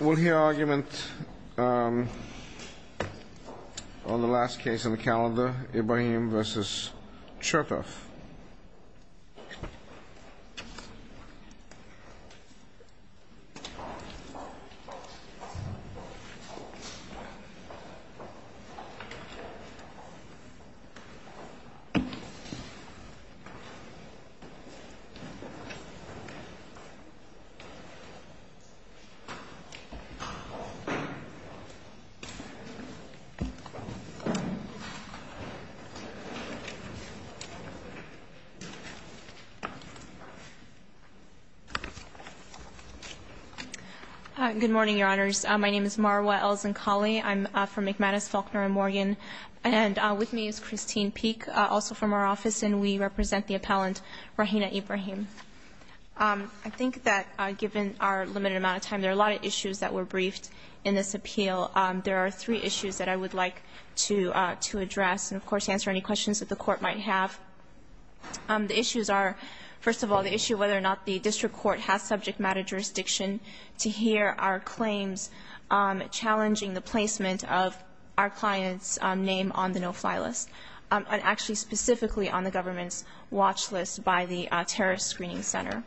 We'll hear our argument on the last case on the calendar, Ibrahim v. Homeland Security. Ibrahim v. Chekhov. Good morning, Your Honors. My name is Marwa Elzenkhali. I'm from McManus, Faulkner & Morgan. And with me is Christine Peek, also from our office, and we represent the appellant Rahina Ibrahim. I think that given our limited amount of time, there are a lot of issues that were briefed in this appeal. There are three issues that I would like to address. And, of course, answer any questions that the Court might have. The issues are, first of all, the issue whether or not the district court has subject matter jurisdiction to hear our claims challenging the placement of our client's name on the no-fly list, and actually specifically on the government's watch list by the terrorist screening center.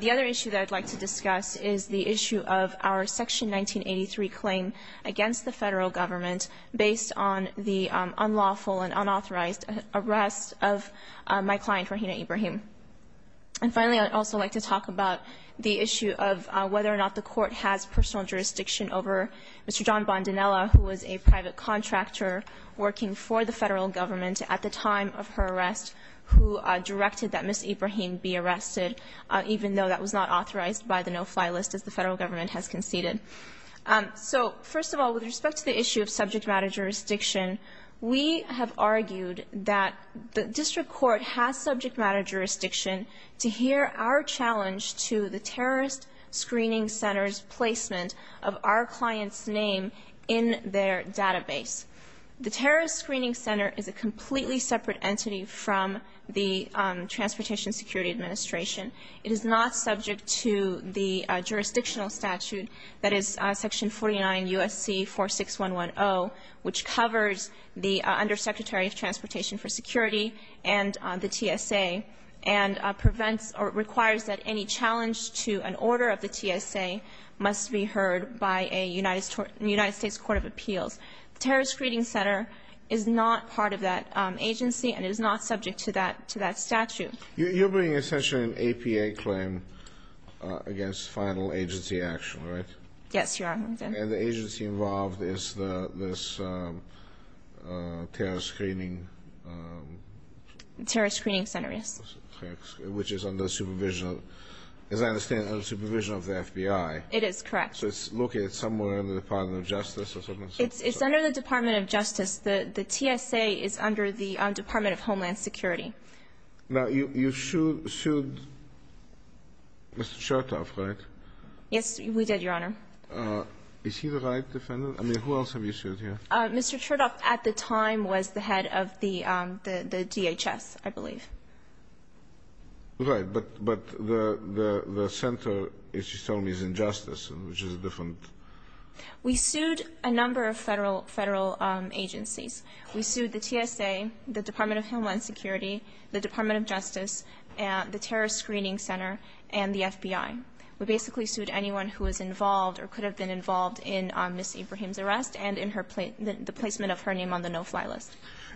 The other issue that I'd like to discuss is the issue of our Section 1983 claim against the federal government based on the unlawful and unauthorized arrest of my client, Rahina Ibrahim. And, finally, I'd also like to talk about the issue of whether or not the Court has personal jurisdiction over Mr. John Bondinella, who was a private contractor working for the federal government at the time of her arrest, who directed that Ms. Ibrahim be arrested, even though that was not authorized by the no-fly list, as the federal government has conceded. So, first of all, with respect to the issue of subject matter jurisdiction, we have argued that the district court has subject matter jurisdiction to hear our challenge to the terrorist screening center's placement of our client's name in their database. The terrorist screening center is a completely separate entity from the Transportation Security Administration. It is not subject to the jurisdictional statute that is Section 49 U.S.C. 46110, which covers the Undersecretary of Transportation for Security and the TSA, and prevents or requires that any challenge to an order of the TSA must be heard by a United States court of appeals. The terrorist screening center is not part of that agency and is not subject to that statute. You're bringing essentially an APA claim against final agency action, right? Yes, Your Honor. And the agency involved is this terrorist screening... Terrorist screening center, yes. Which is under supervision, as I understand, under supervision of the FBI. It is, correct. So it's located somewhere in the Department of Justice or something? It's under the Department of Justice. The TSA is under the Department of Homeland Security. Now, you sued Mr. Chertoff, right? Yes, we did, Your Honor. Is he the right defendant? I mean, who else have you sued here? Mr. Chertoff, at the time, was the head of the DHS, I believe. Right, but the center, as you're telling me, is in Justice, which is a different... We sued a number of federal agencies. We sued the TSA, the Department of Homeland Security, the Department of Justice, the terrorist screening center, and the FBI. We basically sued anyone who was involved or could have been involved in Ms. Ibrahim's arrest and in the placement of her name on the no-fly list.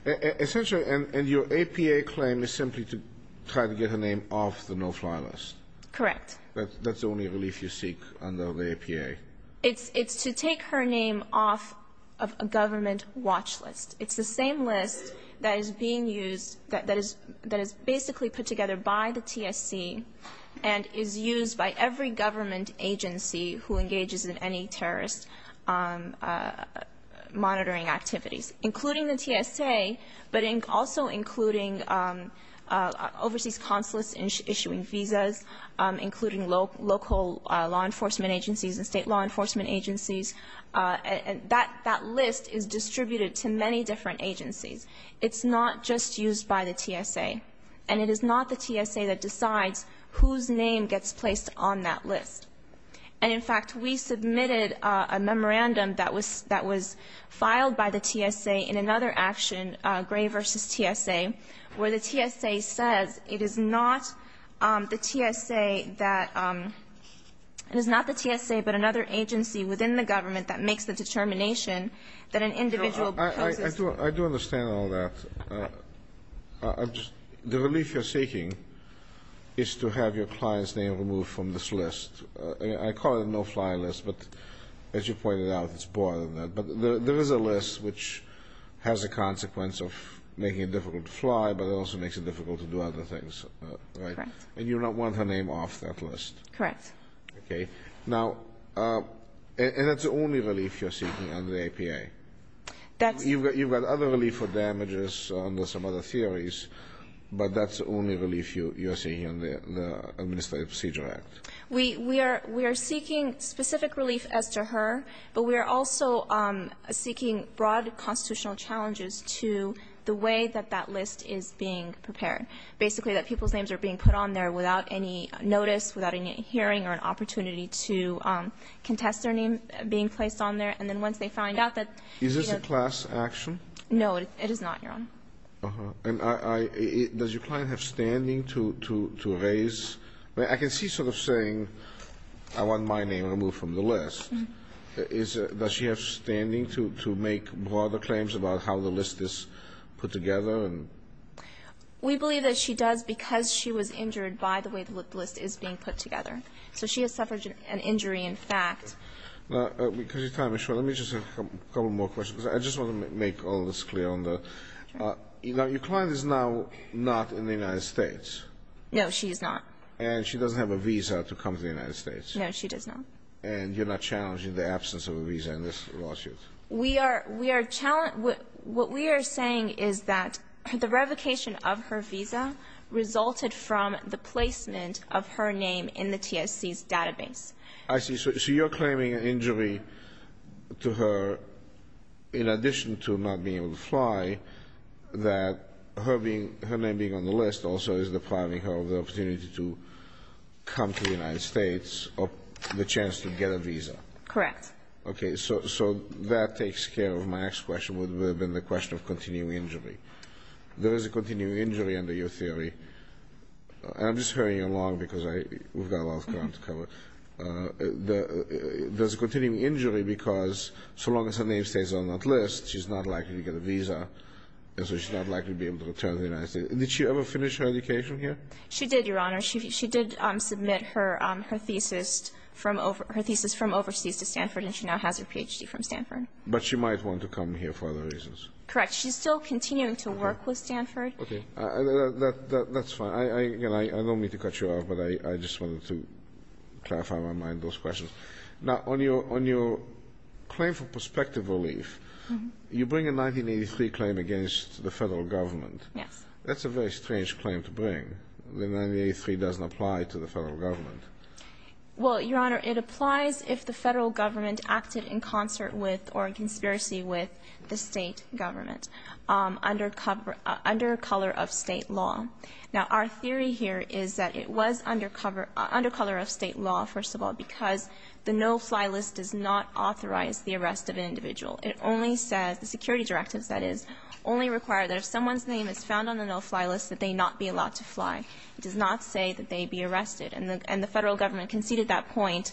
Essentially, and your APA claim is simply to try to get her name off the no-fly list? Correct. That's the only relief you seek under the APA? It's to take her name off of a government watch list. It's the same list that is being used, that is basically put together by the TSC and is used by every government agency who engages in any terrorist monitoring activities, including the TSA, but also including overseas consulates issuing visas, including local law enforcement agencies and state law enforcement agencies. That list is distributed to many different agencies. It's not just used by the TSA, and it is not the TSA that decides whose name gets placed on that list. And in fact, we submitted a memorandum that was filed by the TSA in another action, Gray v. TSA, where the TSA says it is not the TSA that, it is not the TSA but another agency within the government that makes the determination that an individual poses. I do understand all that. The relief you're seeking is to have your client's name removed from this list. I call it a no-fly list, but as you pointed out, it's more than that. But there is a list which has a consequence of making it difficult to fly, but it also makes it difficult to do other things. Correct. And you don't want her name off that list. Correct. Okay. Now, and that's the only relief you're seeking under the APA. You've got other relief for damages under some other theories, but that's the only relief you're seeking under the Administrative Procedure Act. We are seeking specific relief as to her, but we are also seeking broad constitutional challenges to the way that that list is being prepared. Basically, that people's names are being put on there without any notice, without any hearing or an opportunity to contest their name being placed on there. And then once they find out that... Is this a class action? No, it is not, Your Honor. Uh-huh. And does your client have standing to raise? I can see sort of saying, I want my name removed from the list. Does she have standing to make broader claims about how the list is put together? We believe that she does because she was injured by the way the list is being put together. So she has suffered an injury, in fact. Now, because you're time is short, let me just ask a couple more questions. I just want to make all this clear on the... Okay. Now, your client is now not in the United States. No, she is not. And she doesn't have a visa to come to the United States. No, she does not. And you're not challenging the absence of a visa in this lawsuit? We are... What we are saying is that the revocation of her visa resulted from the placement of her name in the TSC's database. I see. So you're claiming an injury to her in addition to not being able to fly that her name being on the list also is depriving her of the opportunity to come to the United States or the chance to get a visa? Correct. Okay, so that takes care of my next question which would have been the question of continuing injury. There is a continuing injury under your theory. I'm just hurrying along because we've got a lot of time to cover. There's a continuing injury because so long as her name stays on that list, she's not likely to get a visa and so she's not likely to be able to return to the United States. Did she ever finish her education here? She did, Your Honor. She did submit her thesis from overseas to Stanford and she now has her PhD from Stanford. But she might want to come here for other reasons. Correct. She's still continuing to work with Stanford. Okay, that's fine. I don't mean to cut you off, but I just wanted to clarify my mind those questions. Now, on your claim for prospective relief, you bring a 1983 claim against the federal government. Yes. That's a very strange claim to bring when 1983 doesn't apply to the federal government. Well, Your Honor, it applies if the federal government acted in concert with or in conspiracy with the state government under color of state law. Now, our theory here is that it was under color of state law, first of all, because the no-fly list does not authorize the arrest of an individual. It only says, the security directives, that is, only require that if someone's name is found on the no-fly list that they not be allowed to fly. It does not say that they be arrested. And the federal government conceded that point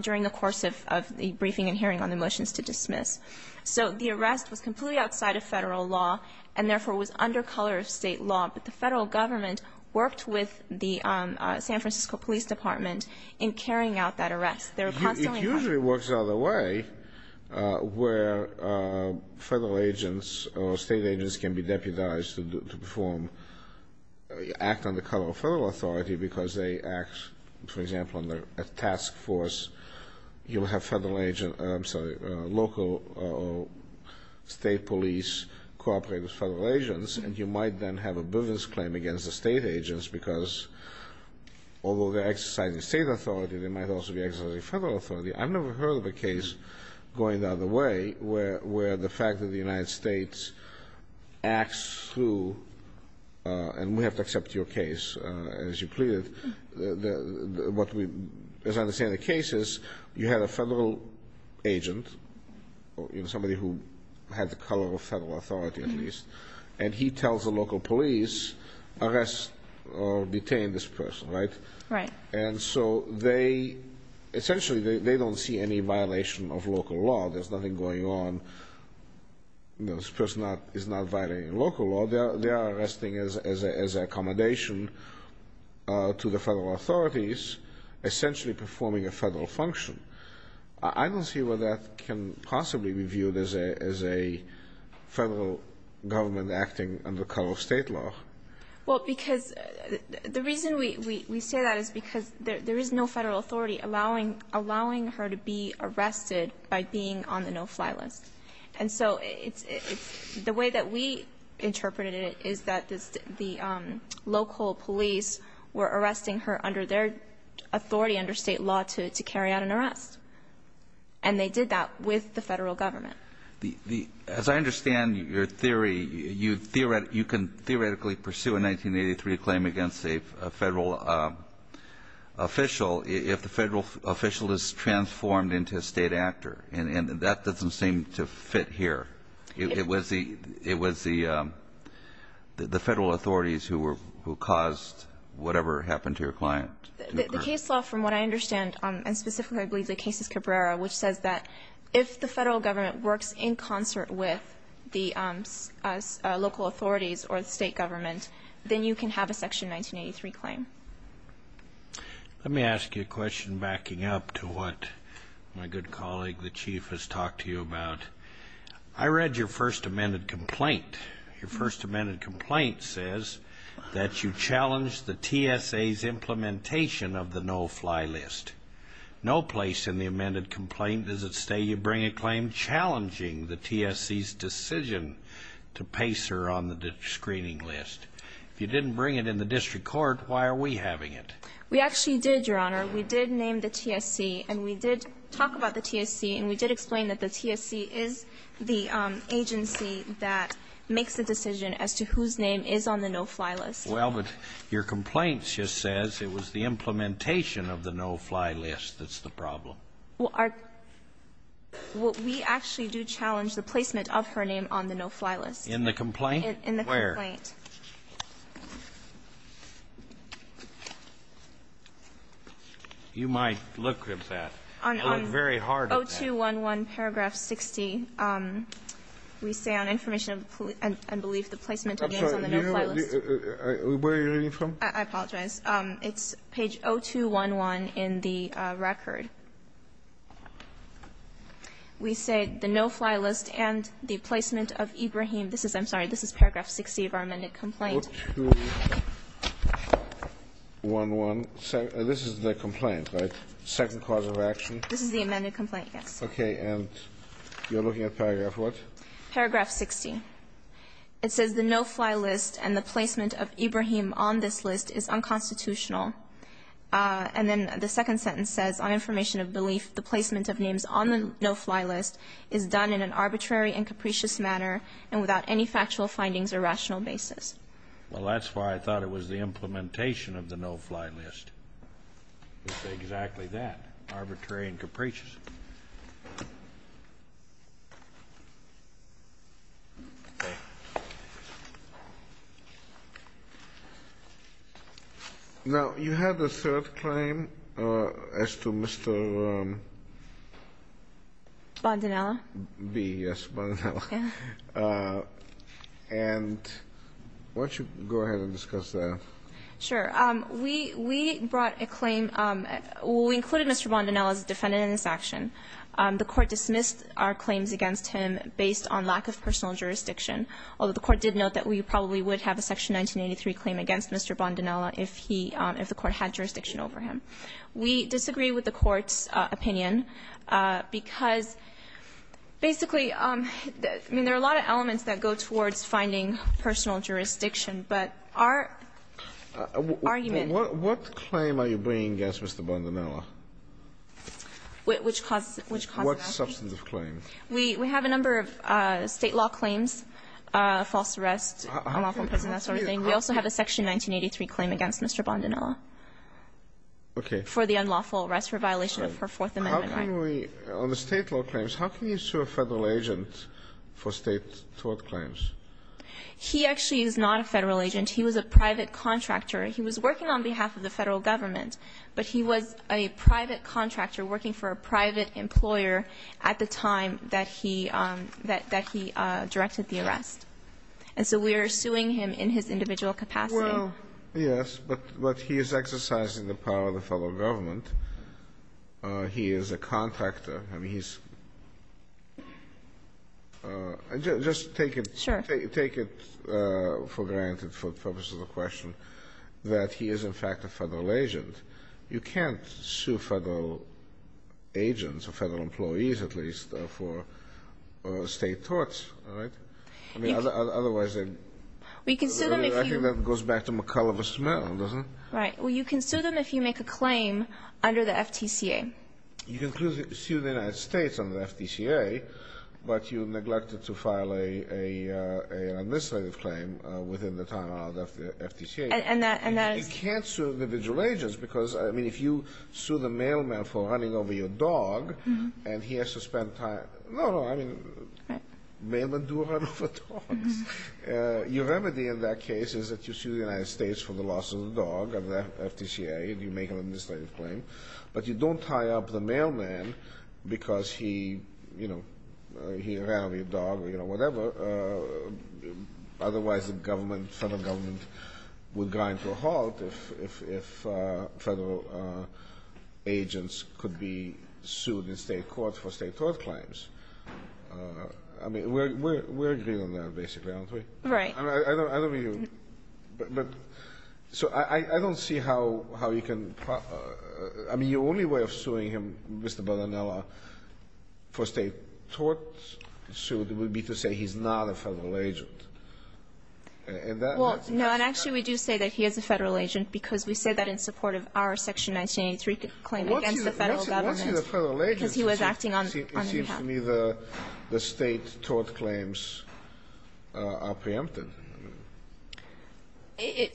during the course of the briefing and hearing on the motions to dismiss. So the arrest was completely outside of federal law and therefore was under color of state law. But the federal government worked with the San Francisco Police Department in carrying out that arrest. It usually works the other way where federal agents or state agents can be deputized to act under color of federal authority because they act, for example, under a task force. You'll have local state police cooperate with federal agents and you might then have a business claim against the state agents because although they're exercising state authority they might also be exercising federal authority. I've never heard of a case going the other way where the fact that the United States acts through and we have to accept your case as you pleaded what we understand in the case is you had a federal agent, somebody who had the color of federal authority at least and he tells the local police arrest or detain this person, right? Right. And so they essentially don't see any violation of local law. There's nothing going on. This person is not violating local law. They are arresting as an accommodation to the federal authorities essentially performing a federal function. I don't see where that can possibly be viewed as a federal government acting under color of state law. Well, because the reason we say that is because there is no federal authority allowing her to be arrested by being on the no-fly list. And so the way that we interpreted it is that the local police were arresting her under their authority under state law to carry out an arrest. And they did that with the federal government. As I understand your theory, you can theoretically pursue a 1983 claim against a federal official if the federal official is transformed into a state actor and that doesn't seem to fit here. It was the federal authorities The case law from what I understand and specifically I believe the case is Cabrera which says that if the federal government works in concert with the local authorities or the state government then you can have a section 1983 claim. Let me ask you a question backing up to what my good colleague the Chief has talked to you about. I read your First Amendment complaint. Your First Amendment complaint says that you challenged the TSA's implementation of the no-fly list. No place in the amended complaint does it say you bring a claim challenging the TSA's decision to place her on the screening list. If you didn't bring it in the district court why are we having it? We actually did, Your Honor. We did name the TSA and we did talk about the TSA and we did explain that the TSA is the agency that makes the decision as to whose name is on the no-fly list. Well, but your complaint just says it was the implementation of the no-fly list that's the problem. Well, we actually do challenge the placement of her name on the no-fly list. In the complaint? In the complaint. Where? You might look at that. I look very hard at that. On 0211 paragraph 60 we say on information and belief the placement of names on the no-fly list. I'm sorry, where are you reading from? I apologize. It's page 0211 in the record. We say the no-fly list and the placement of Ibrahim I'm sorry, this is paragraph 60 of our amended complaint. 0211 this is the complaint, right? Second cause of action? This is the amended complaint, yes. Okay, and you're looking at paragraph what? Paragraph 60. It says the no-fly list and the placement of Ibrahim on this list is unconstitutional and then the second sentence says on information and belief the placement of names on the no-fly list is done in an arbitrary and capricious manner and without any factual findings or rational basis. Well, that's why I thought it was the implementation of the no-fly list. We say exactly that. Arbitrary and capricious. Now, you had a third claim as to Mr. Bondanella? B, yes, Bondanella. And why don't you go ahead and discuss that. Sure, we brought a claim we included Mr. Bondanella as a defendant in this action the court dismissed our claims against him based on lack of personal jurisdiction although the court did note that we probably would have a section 1983 claim against Mr. Bondanella if he, if the court had jurisdiction over him. We disagree with the court's opinion because basically there are a lot of elements that go towards finding personal jurisdiction but our argument What claim are you bringing against Mr. Bondanella? Which causes that? What substantive claim? We have a number of state law claims false arrest we also have a section 1983 claim against Mr. Bondanella for the unlawful arrest for violation of her 4th amendment right On the state law claims how can you sue a federal agent for state tort claims? He actually is not a federal agent he was a private contractor he was working on behalf of the federal government but he was a private contractor working for a private employer at the time that he that he directed the arrest and so we are suing him in his individual capacity yes but he is exercising the power of the federal government he is a contractor just take it for granted for the purpose of the question that he is in fact a federal agent you can't sue federal agents or federal employees at least for state torts otherwise I think that goes back to McCulliver's mail doesn't it? You can sue them if you make a claim under the FTCA You can sue the United States under the FTCA but you neglected to file an administrative claim within the time of the FTCA You can't sue individual agents because if you sue the mailman for running over your dog and he has to spend time mailmen do run over dogs your remedy in that case is that you sue the United States for the loss of the dog under the FTCA if you make an administrative claim but you don't tie up the mailman because he ran over your dog or whatever otherwise the government federal government would grind to a halt if federal agents could be sued in state court for state tort claims we're agreeing on that basically aren't we? I don't mean I don't see how you can your only way of suing him for state tort suit would be to say he's not a federal agent No and actually we do say that he is a federal agent because we say that in support of our section 1983 claim against the federal government What's he the federal agent? It seems to me the state tort claims are preempted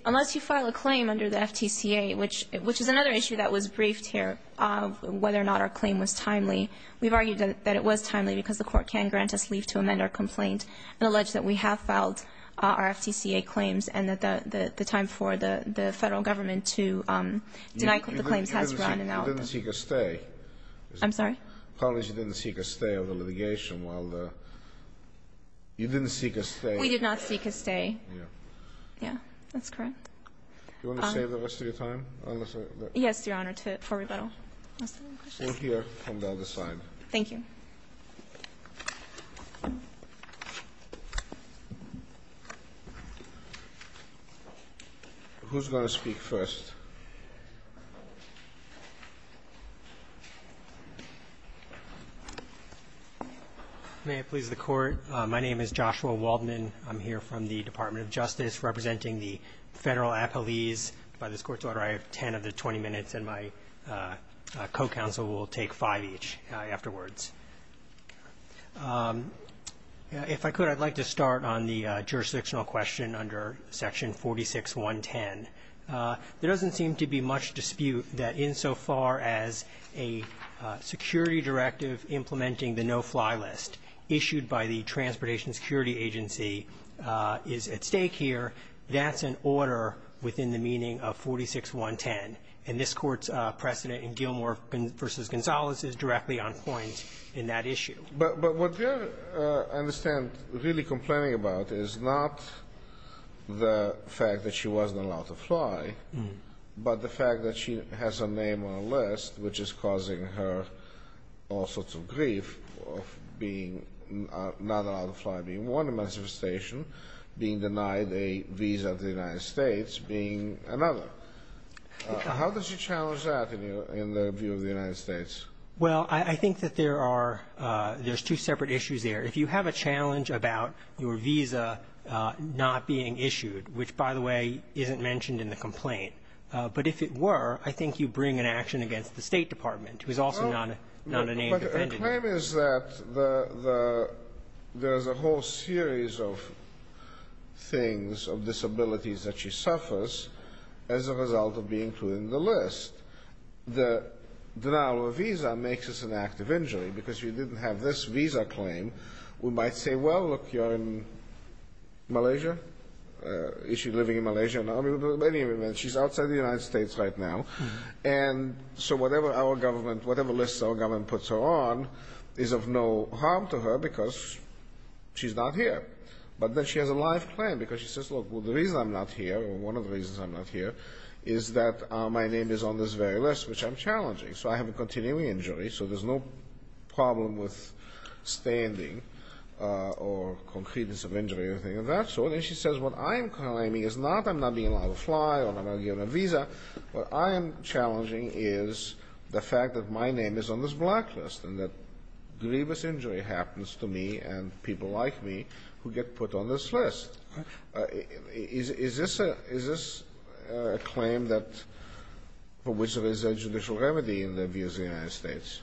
Unless you file a claim under the FTCA which is another issue that was briefed here whether or not our claim was timely we've argued that it was timely because the court can grant us leave to amend our complaint and allege that we have filed our FTCA claims and that the time for the federal government to deny the claims has run out You didn't seek a stay You didn't seek a stay of the litigation You didn't seek a stay We did not seek a stay Do you want to save the rest of your time? Yes, your honor for rebuttal We'll hear from the other side Thank you Who's going to speak first? May it please the court My name is Joshua Waldman I'm here from the Department of Justice representing the federal appellees By this court's order, I have 10 of the 20 minutes and my co-counsel will take 5 each afterwards If I could, I'd like to start on the jurisdictional question under section 46.1.10 There doesn't seem to be much dispute that insofar as a security directive implementing the no-fly list issued by the Transportation Security Agency is at stake here that's an order within the meaning of 46.1.10 and this court's precedent in Gilmore v. Gonzalez is directly on point in that issue But what I understand really complaining about is not the fact that she wasn't allowed to fly but the fact that she has a name on a list which is causing her all sorts of grief of being not allowed to fly being warned of mass devastation being denied a visa to the United States being another How does she challenge that in the view of the United States? Well, I think that there are there's two separate issues there If you have a challenge about your visa not being issued which, by the way, isn't mentioned in the complaint but if it were, I think you'd bring an action against the State Department who is also not a name defended The claim is that there's a whole series of things, of disabilities that she suffers as a result of being included in the list The denial of a visa makes this an act of injury because if you didn't have this visa claim we might say, well, look you're in Malaysia Is she living in Malaysia? She's outside the United States right now So whatever lists our government puts her on is of no harm to her because she's not here But then she has a live claim because she says, look, the reason I'm not here or one of the reasons I'm not here is that my name is on this very list which I'm challenging So I have a continuing injury so there's no problem with standing or concreteness of injury or anything of that sort And she says what I'm claiming is not I'm not being allowed to fly or I'm not getting a visa What I am challenging is the fact that my name is on this blacklist and that grievous injury happens to me and people like me who get put on this list Is this a claim for which there is a judicial remedy in the views of the United States?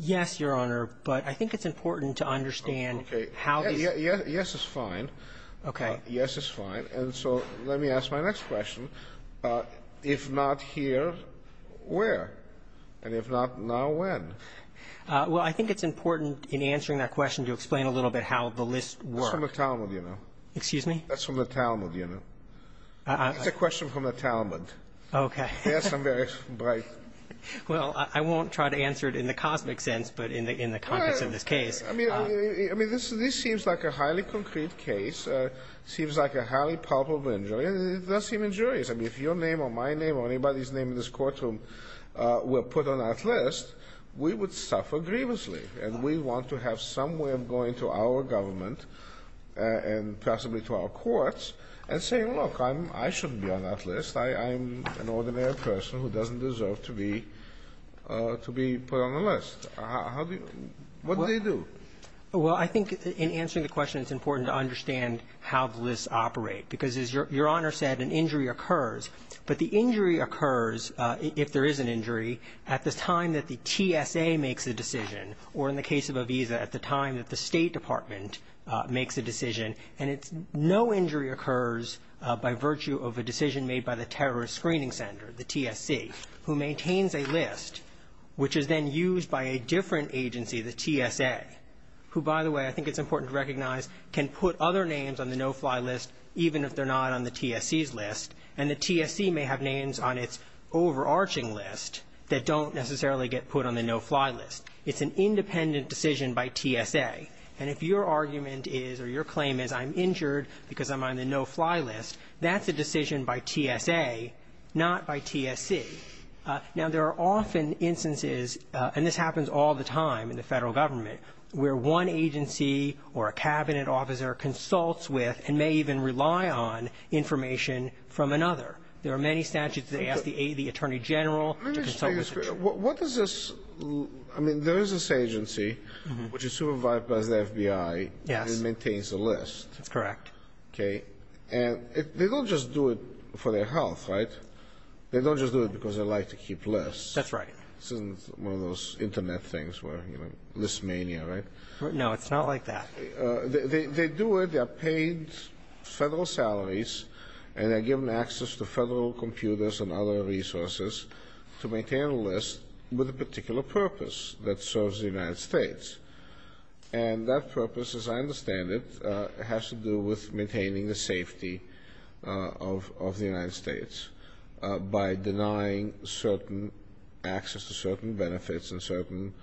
Yes, Your Honor But I think it's important to understand Yes is fine Yes is fine So let me ask my next question If not here where? And if not now, when? Well, I think it's important in answering that question to explain a little bit how the list works That's from the Talmud, you know That's from the Talmud, you know That's a question from the Talmud Yes, I'm very bright Well, I won't try to answer it in the cosmic sense but in the context of this case I mean, this seems like a highly concrete case seems like a highly probable injury and it does seem injurious I mean, if your name or my name or anybody's name in this courtroom were put on that list we would suffer grievously and we want to have some way of going to our government and possibly to our courts and say, look, I shouldn't be on that list I'm an ordinary person who doesn't deserve to be to be put on the list What do they do? Well, I think in answering the question it's important to understand how the lists operate because as Your Honor said, an injury occurs but the injury occurs if there is an injury at the time that the TSA makes a decision or in the case of Aviza, at the time that the State Department makes a decision and no injury occurs by virtue of a decision made by the Terrorist Screening Center, the TSC who maintains a list which is then used by a different agency the TSA who, by the way, I think it's important to recognize can put other names on the no-fly list even if they're not on the TSC's list and the TSC may have names on its overarching list that don't necessarily get put on the no-fly list It's an independent decision by TSA and if your argument is, or your claim is I'm injured because I'm on the no-fly list that's a decision by TSA not by TSC Now, there are often instances and this happens all the time in the federal government where one agency or a cabinet officer consults with and may even rely on information from another There are many statutes that ask the Attorney General to consult with the Attorney General I mean, there is this agency which is supervised by the FBI and maintains a list That's correct They don't just do it for their health, right? They don't just do it because they like to keep lists This isn't one of those internet things where, you know, list mania, right? No, it's not like that They do it, they're paid federal salaries and they're given access to federal computers and other resources to maintain a list with a particular purpose that serves the United States and that purpose, as I understand it has to do with maintaining the safety of the United States by denying certain access to certain benefits and certain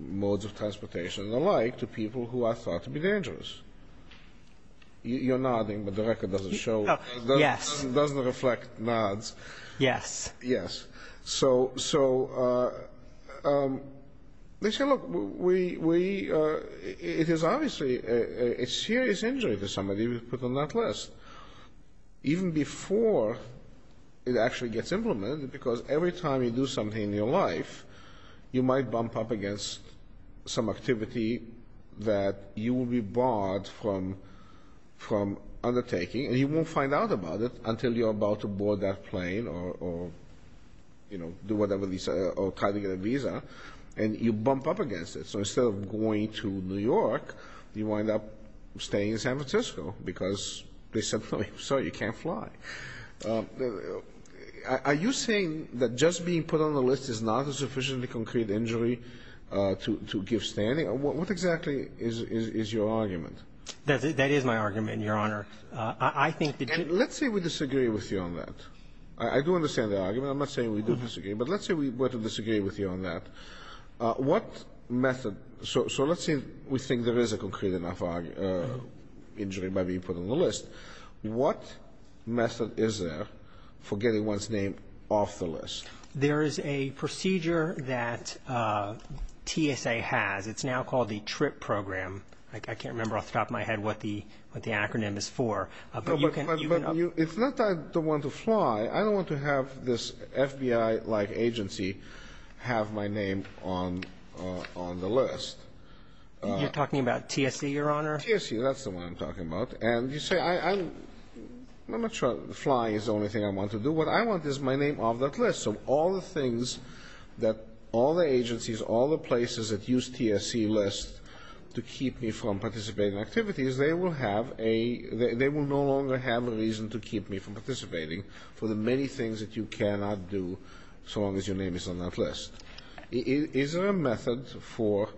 modes of transportation and the like to people who are thought to be dangerous You're nodding but the record doesn't show it doesn't reflect nods Yes So they say, look it is obviously a serious injury to somebody to be put on that list even before it actually gets implemented because every time you do something in your life you might bump up against some activity that you will be barred from undertaking and you won't find out about it until you're about to board that plane or, you know, do whatever or try to get a visa and you bump up against it so instead of going to New York you wind up staying in San Francisco because they said, sorry, you can't fly Are you saying that just being put on the list is not a sufficiently concrete injury to give standing What exactly is your argument? That is my argument, Your Honor I think that you Let's say we disagree with you on that I do understand the argument but let's say we were to disagree with you on that What method so let's say we think there is a concrete enough injury to be put on the list What method is there for getting one's name off the list There is a procedure that TSA has It's now called the TRIP program I can't remember off the top of my head what the acronym is for It's not that I don't want to fly I don't want to have this FBI-like agency have my name on the list You're talking about TSA, Your Honor TSA, that's the one I'm talking about I'm not sure Flying is the only thing I want to do What I want is my name off that list So all the things all the agencies, all the places that use TSA lists to keep me from participating in activities they will no longer have a reason to keep me from participating for the many things that you cannot do so long as your name is on that list Is there a method for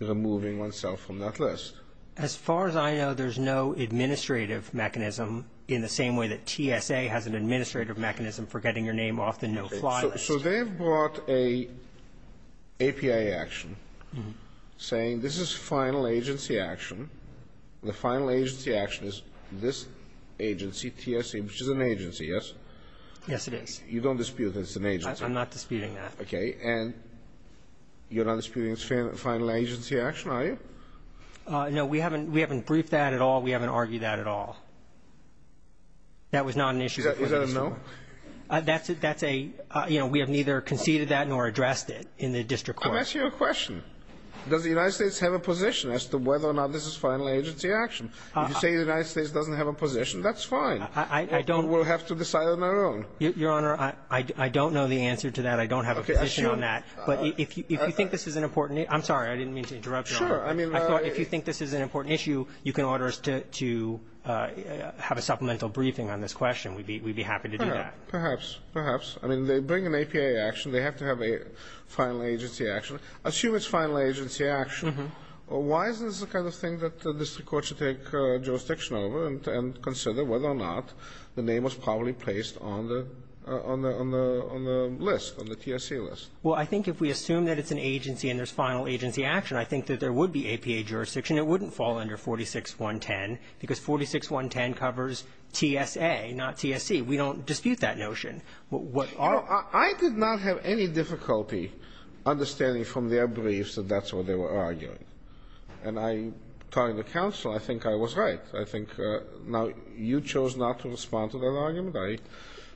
removing oneself from that list As far as I know, there is no administrative mechanism in the same way that TSA has an administrative mechanism for getting your name off the no-fly list So they've brought a API action saying this is final agency action the final agency action is this agency TSA, which is an agency, yes? Yes, it is You don't dispute that it's an agency? I'm not disputing that You're not disputing it's final agency action, are you? No, we haven't We haven't briefed that at all, we haven't argued that at all That was not an issue We have neither conceded that nor addressed it I'm asking you a question Does the United States have a position as to whether or not this is final agency action? If you say the United States doesn't have a position, that's fine We'll have to decide on our own Your Honor, I don't know the answer to that, I don't have a position on that But if you think this is an important I'm sorry, I didn't mean to interrupt you If you think this is an important issue you can order us to have a supplemental briefing on this question we'd be happy to do that Perhaps, perhaps, I mean they bring an APA action, they have to have a final agency action, assume it's final agency action, why is this the kind of thing that the district court should take jurisdiction over and consider whether or not the name was probably placed on the list, on the TSA list Well, I think if we assume that it's an agency and there's final agency action, I think that there would be APA jurisdiction, it wouldn't fall under 46.110 because 46.110 covers TSA not TSC, we don't dispute that notion I did not have any difficulty understanding from their briefs that that's what they were arguing and I, talking to counsel, I think I was right I think, now you chose not to respond to that argument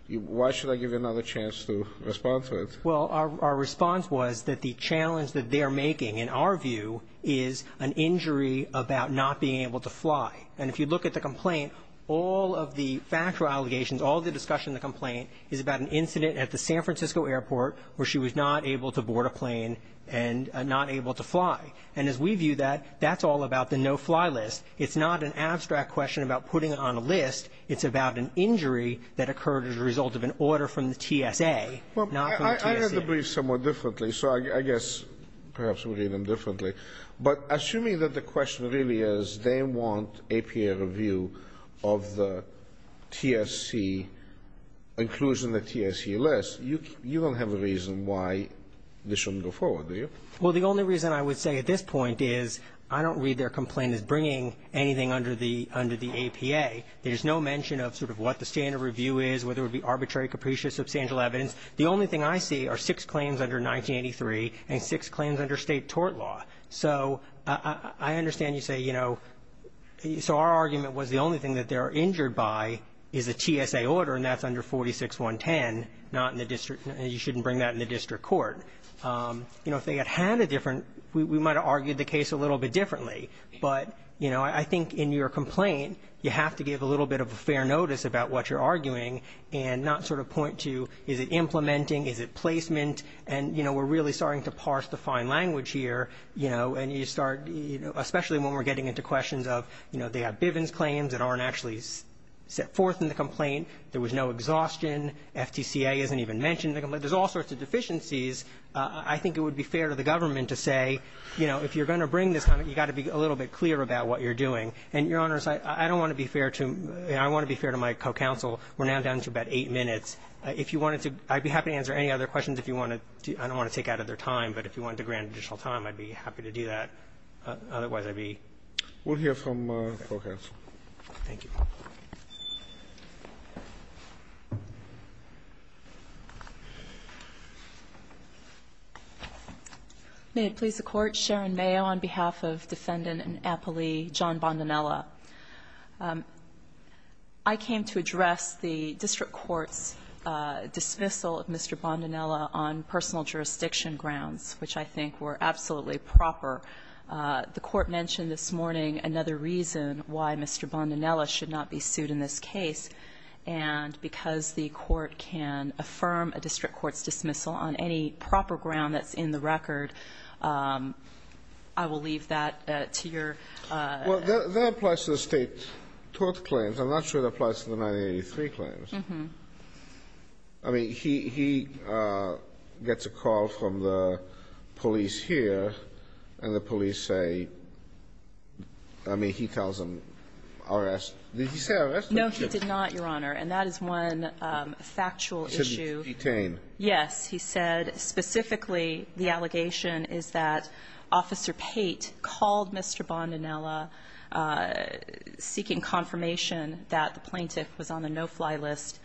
why should I give you another chance to respond to it? Well, our response was that the challenge that they're making, in our view is an injury about not being able to fly and if you look at the complaint, all of the factual allegations, all the discussion in the complaint is about an incident at the San Francisco airport where she was not able to board a plane and not able to fly, and as we view that that's all about the no-fly list it's not an abstract question about putting it on a list, it's about an injury that occurred as a result of an order from the TSA, not from the TSC I read the briefs somewhat differently, so I guess perhaps we read them differently but assuming that the question really is they want APA review of the TSC inclusion of the TSC list you don't have a reason why this shouldn't go forward, do you? Well, the only reason I would say at this point is I don't read their complaint as bringing anything under the APA there's no mention of sort of what the standard review is, whether it be arbitrary, capricious, substantial evidence, the only thing I see are six claims under 1983 and six claims under state tort law so I understand you say so our argument was the only thing that they're injured by is a TSA order and that's under 46-110, not in the district you shouldn't bring that in the district court if they had had a different we might have argued the case a little bit differently but I think in your complaint you have to give a little bit of a fair notice about what you're arguing and not sort of point to is it implementing, is it placement and we're really starting to parse the fine language here especially when we're getting into questions of they have Bivens claims that aren't actually set forth in the complaint, there was no exhaustion FTCA isn't even mentioned in the complaint there's all sorts of deficiencies I think it would be fair to the government to say if you're going to bring this, you've got to be a little bit clear about what you're doing and your honors, I don't want to be fair to I want to be fair to my co-counsel we're now down to about 8 minutes I'd be happy to answer any other questions I don't want to take out of their time but if you wanted to grant additional time, I'd be happy to do that otherwise I'd be we'll hear from co-counsel thank you may it please the court, Sharon Mayo on behalf of defendant and appellee John Bondanella I came to address the district court's dismissal of Mr. Bondanella on personal jurisdiction grounds which I think were absolutely proper the court mentioned this morning another reason why Mr. Bondanella should not be sued in this case and because the court can affirm a district court's dismissal on any proper ground that's in the record I will leave that to your that applies to the state court claims, I'm not sure it applies to the 1983 claims I mean, he gets a call from the police here and the police say I mean, he tells them arrest, did he say arrest? no, he did not, your honor, and that is one factual issue yes, he said specifically the allegation is that officer Pate called Mr. Bondanella seeking confirmation that the plaintiff was on the no-fly list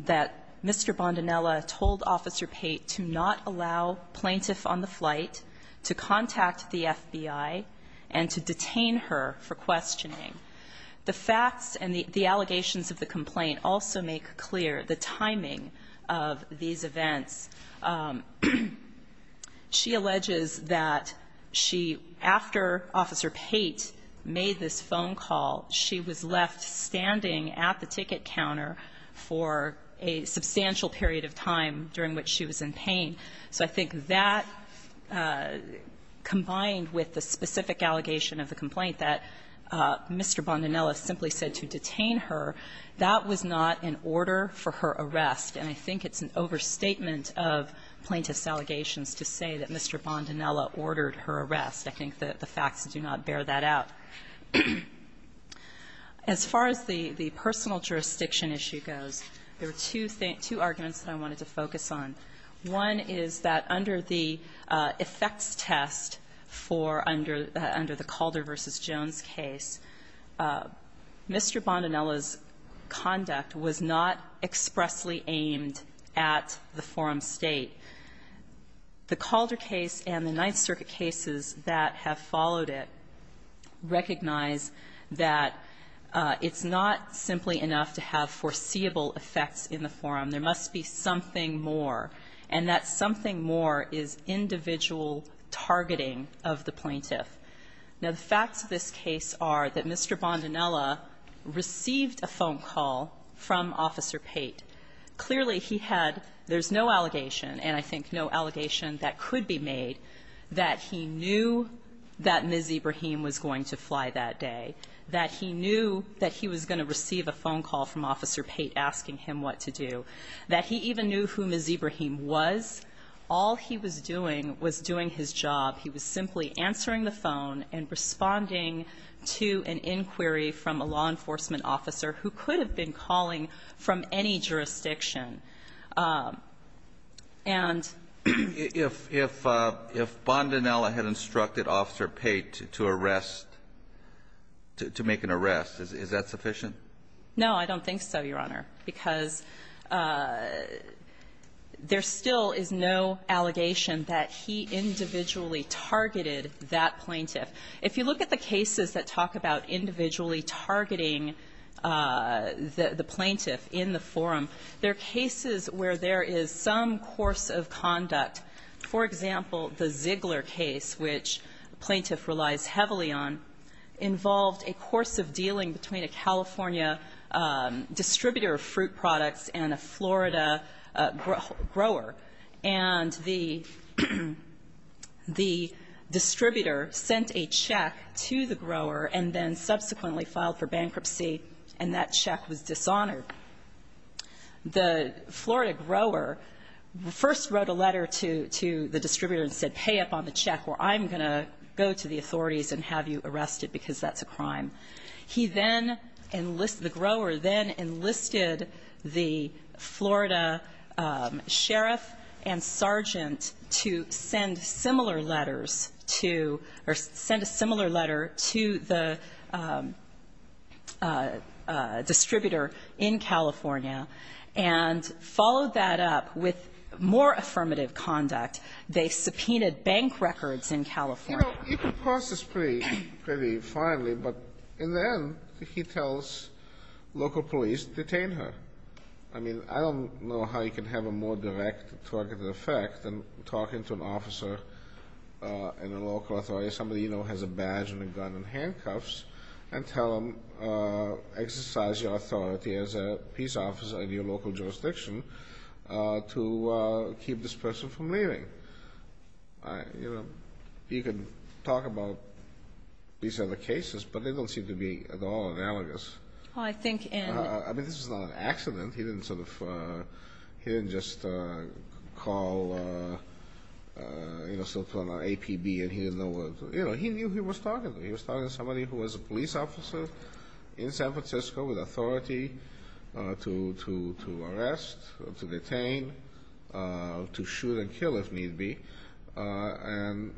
that Mr. Bondanella told officer Pate to not allow plaintiff on the flight to contact the FBI and to detain her for questioning the facts and the allegations of the complaint also make clear the timing of these events she alleges that she after officer Pate made this phone call she was left standing at the ticket counter for a substantial period of time during which she was in pain so I think that combined with the specific allegation of the complaint that Mr. Bondanella simply said to detain her, that was not an order for her arrest and I think it's an overstatement of plaintiff's allegations to say that Mr. Bondanella ordered her arrest, I think the facts do not bear that out as far as the personal jurisdiction issue goes there are two arguments that I wanted to focus on, one is that under the effects test for under the Calder v. Jones case Mr. Bondanella's conduct was not expressly aimed at the forum state the Calder case and the Ninth Circuit cases that have followed it recognize that it's not simply enough to have foreseeable effects in the forum, there must be something more and that something more is individual targeting of the plaintiff now the facts of this case are that Mr. Bondanella received a phone call from Officer Pate clearly he had, there's no allegation and I think no allegation that could be made that he knew that Ms. Ibrahim was going to fly that day that he knew that he was going to receive a phone call from Officer Pate asking him what to do, that he even knew who Ms. Ibrahim was all he was doing was doing his job, he was simply answering the phone and responding to an inquiry from a law enforcement officer who could have been calling from any jurisdiction If Bondanella had instructed Officer Pate to arrest to make an arrest, is that sufficient? No, I don't think so, Your Honor because there still is no allegation that he individually targeted that plaintiff. If you look at the cases that talk about individually targeting the plaintiff in the forum there are cases where there is some course of conduct for example, the Ziegler case which the plaintiff relies heavily on, involved a course of dealing between a California distributor of fruit products and a Florida grower and the distributor sent a check to the grower and then subsequently filed for bankruptcy and that check was dishonored the Florida grower first wrote a letter to the distributor and said pay up on the check or I'm going to go to the authorities and have you arrested because that's a crime the grower then enlisted the Florida sheriff and sergeant to send similar letters to the distributor in California and followed that up with more affirmative conduct. They subpoenaed bank records in California You know, you can parse this pretty finely but in the end he tells local police detain her I don't know how you can have a more direct targeted effect than talking to an officer in a local authority, somebody you know has a badge and a gun and handcuffs and tell them exercise your authority as a peace officer in your local jurisdiction to keep this person from leaving You know, you can talk about these other cases but they don't seem to be at all analogous I think in I mean this is not an accident he didn't sort of he didn't just call you know APB and he didn't know he knew who he was talking to he was talking to somebody who was a police officer in San Francisco with authority to arrest to detain to shoot and kill if need be and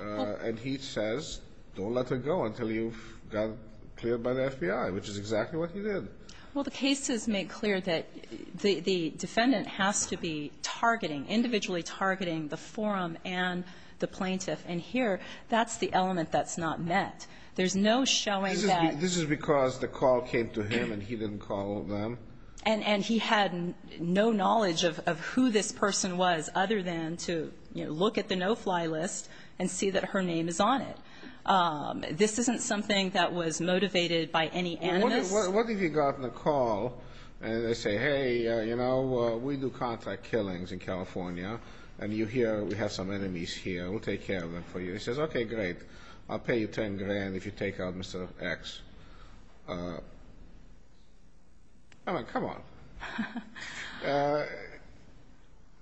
and he says don't let her go until you got cleared by the FBI which is exactly what he did Well the cases make clear that the defendant has to be targeting, individually targeting the forum and the plaintiff and here, that's the element that's not met. There's no showing that This is because the call came to him and he didn't call them and he had no knowledge of who this person was other than to look at the no-fly list and see that her name is on it This isn't something that was motivated by any animus What if he got in a call and they say hey we do contract killings in California and you hear we have some enemies here, we'll take care of them for you he says okay great, I'll pay you ten grand if you take out Mr. X uh I mean come on uh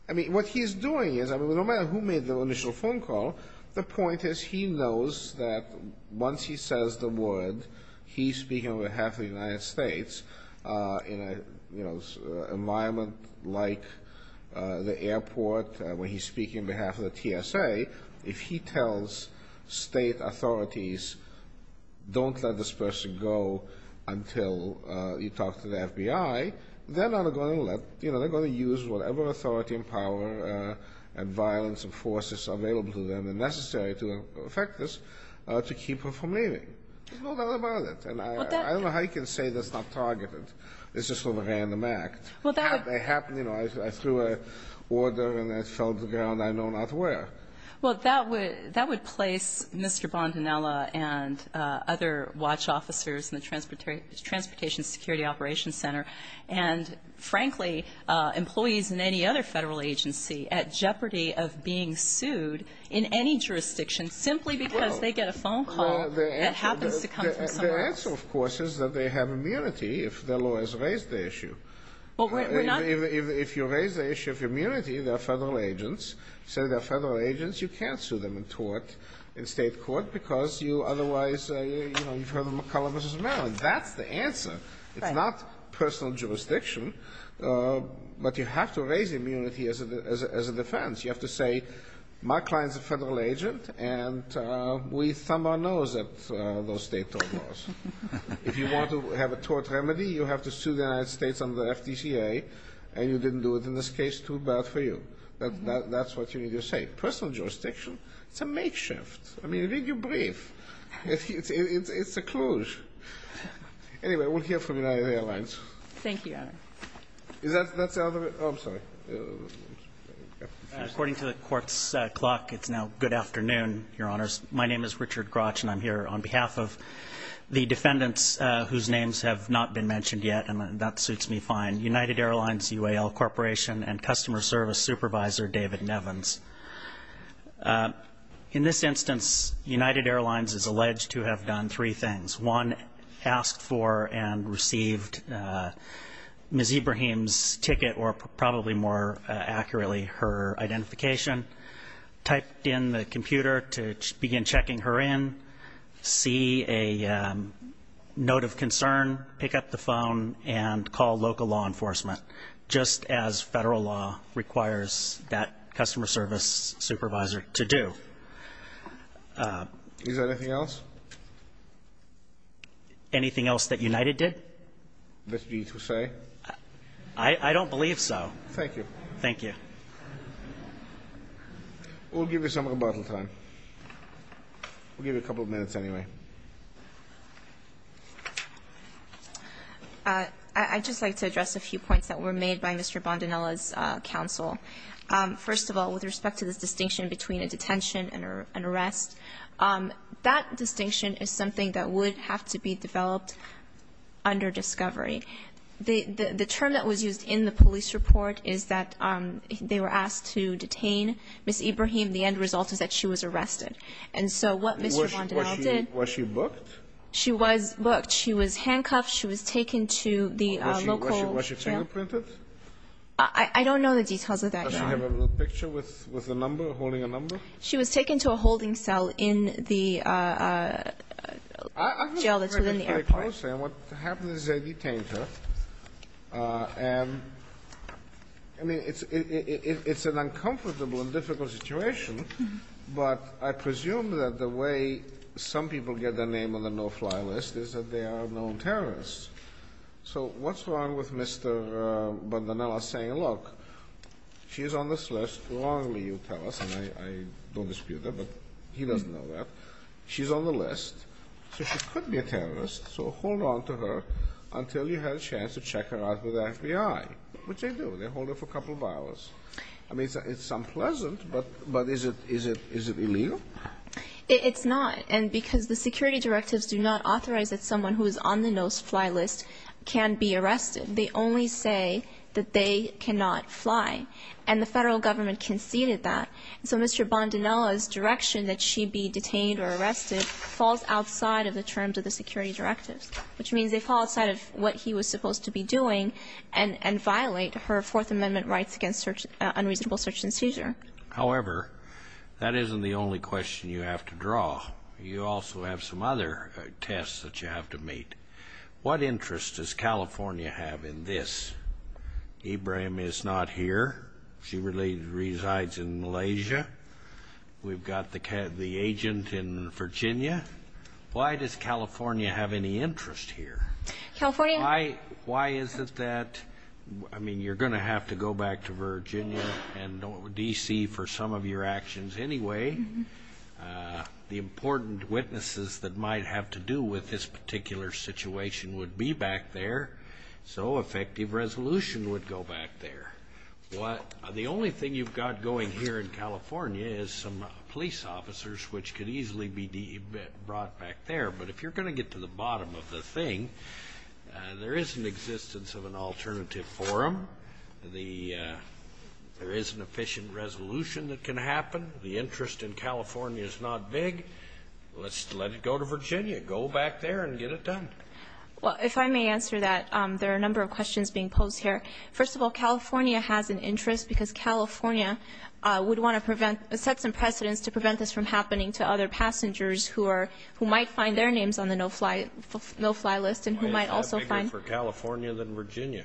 I mean what he's doing is no matter who made the initial phone call the point is he knows that once he says the word he's speaking on behalf of the United States in an environment like the airport when he's speaking on behalf of the TSA, if he tells state authorities don't let this person go until they're going to use whatever authority and power and violence and forces available to them necessary to affect this to keep her from leaving there's no doubt about it I don't know how you can say that's not targeted it's just a random act I threw a order and it fell to the ground I know not where Well that would place Mr. Bondanella and other watch officers in the Transportation Security Operations Center and frankly employees in any other federal agency at jeopardy of being sued in any jurisdiction simply because they get a phone call that happens to come from somewhere else the answer of course is that they have immunity if their lawyers raise the issue if you raise the issue of immunity, they're federal agents say they're federal agents, you can't sue them in state court because you otherwise you've heard of McCullough v. Maryland that's the answer it's not personal jurisdiction but you have to raise immunity as a defense you have to say my client's a federal agent and we thumb our nose at those state court laws if you want to have a tort remedy you have to sue the United States under the FDCA and you didn't do it in this case, too bad for you that's what you need to say personal jurisdiction, it's a makeshift I mean, read your brief it's a clouche anyway, we'll hear from is that the end of it? according to the court's clock it's now good afternoon, your honors my name is Richard Grotch and I'm here on behalf of the defendants whose names have not been mentioned yet and that suits me fine, United Airlines UAL Corporation and Customer Service Supervisor David Nevins instance, United Airlines is alleged to have done three things one, asked for and received Ms. Ibrahim's ticket or probably more accurately her identification typed in the computer to begin checking her in see a note of concern pick up the phone and call local law enforcement just as federal law requires that customer service supervisor to do is there anything else? anything else that United did? that you need to say? I don't believe so thank you we'll give you some rebuttal time we'll give you a couple minutes anyway I'd just like to address a few points that were made by Mr. Bondanella's counsel first of all, with respect to this distinction between a detention and an arrest that distinction is something that would have to be developed under discovery the term that was used in the police report is that they were asked to detain Ms. Ibrahim, the end result is that she was arrested was she booked? she was booked, she was handcuffed she was taken to the local was she fingerprinted? I don't know the details of that does she have a picture with a number? she was taken to a holding cell in the jail that's within the airport what happened is they detained her and I mean it's an uncomfortable and difficult situation but I presume that the way some people get their name on the no-fly list is that they are known terrorists so what's wrong with Mr. Bondanella saying look, she's on this list as long as you tell us I don't dispute that, but he doesn't know that she's on the list so she could be a terrorist so hold on to her until you have a chance to check her out with the FBI which they do, they hold her for a couple of hours I mean it's unpleasant but is it illegal? it's not because the security directives do not authorize that someone who is on the no-fly list can be arrested they only say that they cannot fly and the federal government conceded that so Mr. Bondanella's direction that she be detained or arrested falls outside of the terms of the security directives which means they fall outside of what he was supposed to be doing and violate her 4th amendment rights against unreasonable search and seizure however that isn't the only question you have to draw you also have some other tests that you have to meet what interest does California have in this? Ibrahim is not here she resides in Malaysia we've got the agent in Virginia why does California have any interest here? why is it that I mean you're going to have to go back to Virginia and DC for some of your actions anyway the important witnesses that might have to do with this particular situation would be back there so effective resolution would go back there the only thing you've got going here in California is some police officers which could easily be brought back there but if you're going to get to the bottom of the thing there is an existence of an alternative forum there is an efficient resolution that can happen the interest in California is not big let's let it go to Virginia go back there and get it done well if I may answer that there are a number of questions being posed here first of all California has an interest because California would want to set some precedence to prevent this from happening to other passengers who might find their names on the no-fly list why is that bigger for California than Virginia?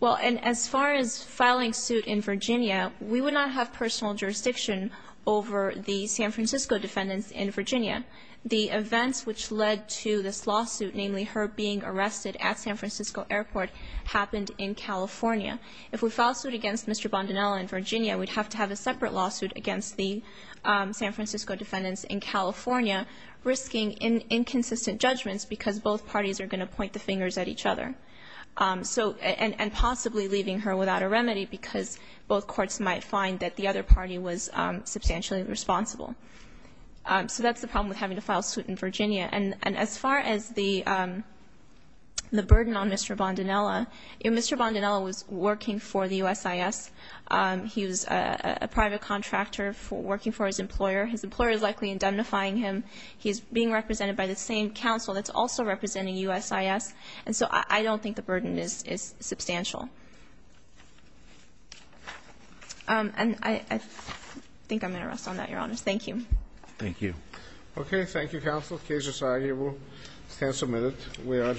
well as far as filing suit in Virginia we would not have personal jurisdiction over the San Francisco defendants in Virginia the events which led to this lawsuit namely her being arrested at San Francisco airport happened in California if we file suit against Mr. Bondanella in Virginia we'd have to have a separate lawsuit against the San Francisco defendants in California risking inconsistent judgments because both parties are going to point the fingers at each other and possibly leaving her without a remedy because both courts might find that the other party was substantially responsible so that's the problem with having to file suit in Virginia and as far as the burden on Mr. Bondanella Mr. Bondanella was working for the USIS he was a private contractor working for his employer his employer is likely indemnifying him he's being represented by the same counsel that's also representing USIS and so I don't think the burden is substantial and I think I'm going to rest on that your honor thank you okay thank you counsel the case is argued we are adjourned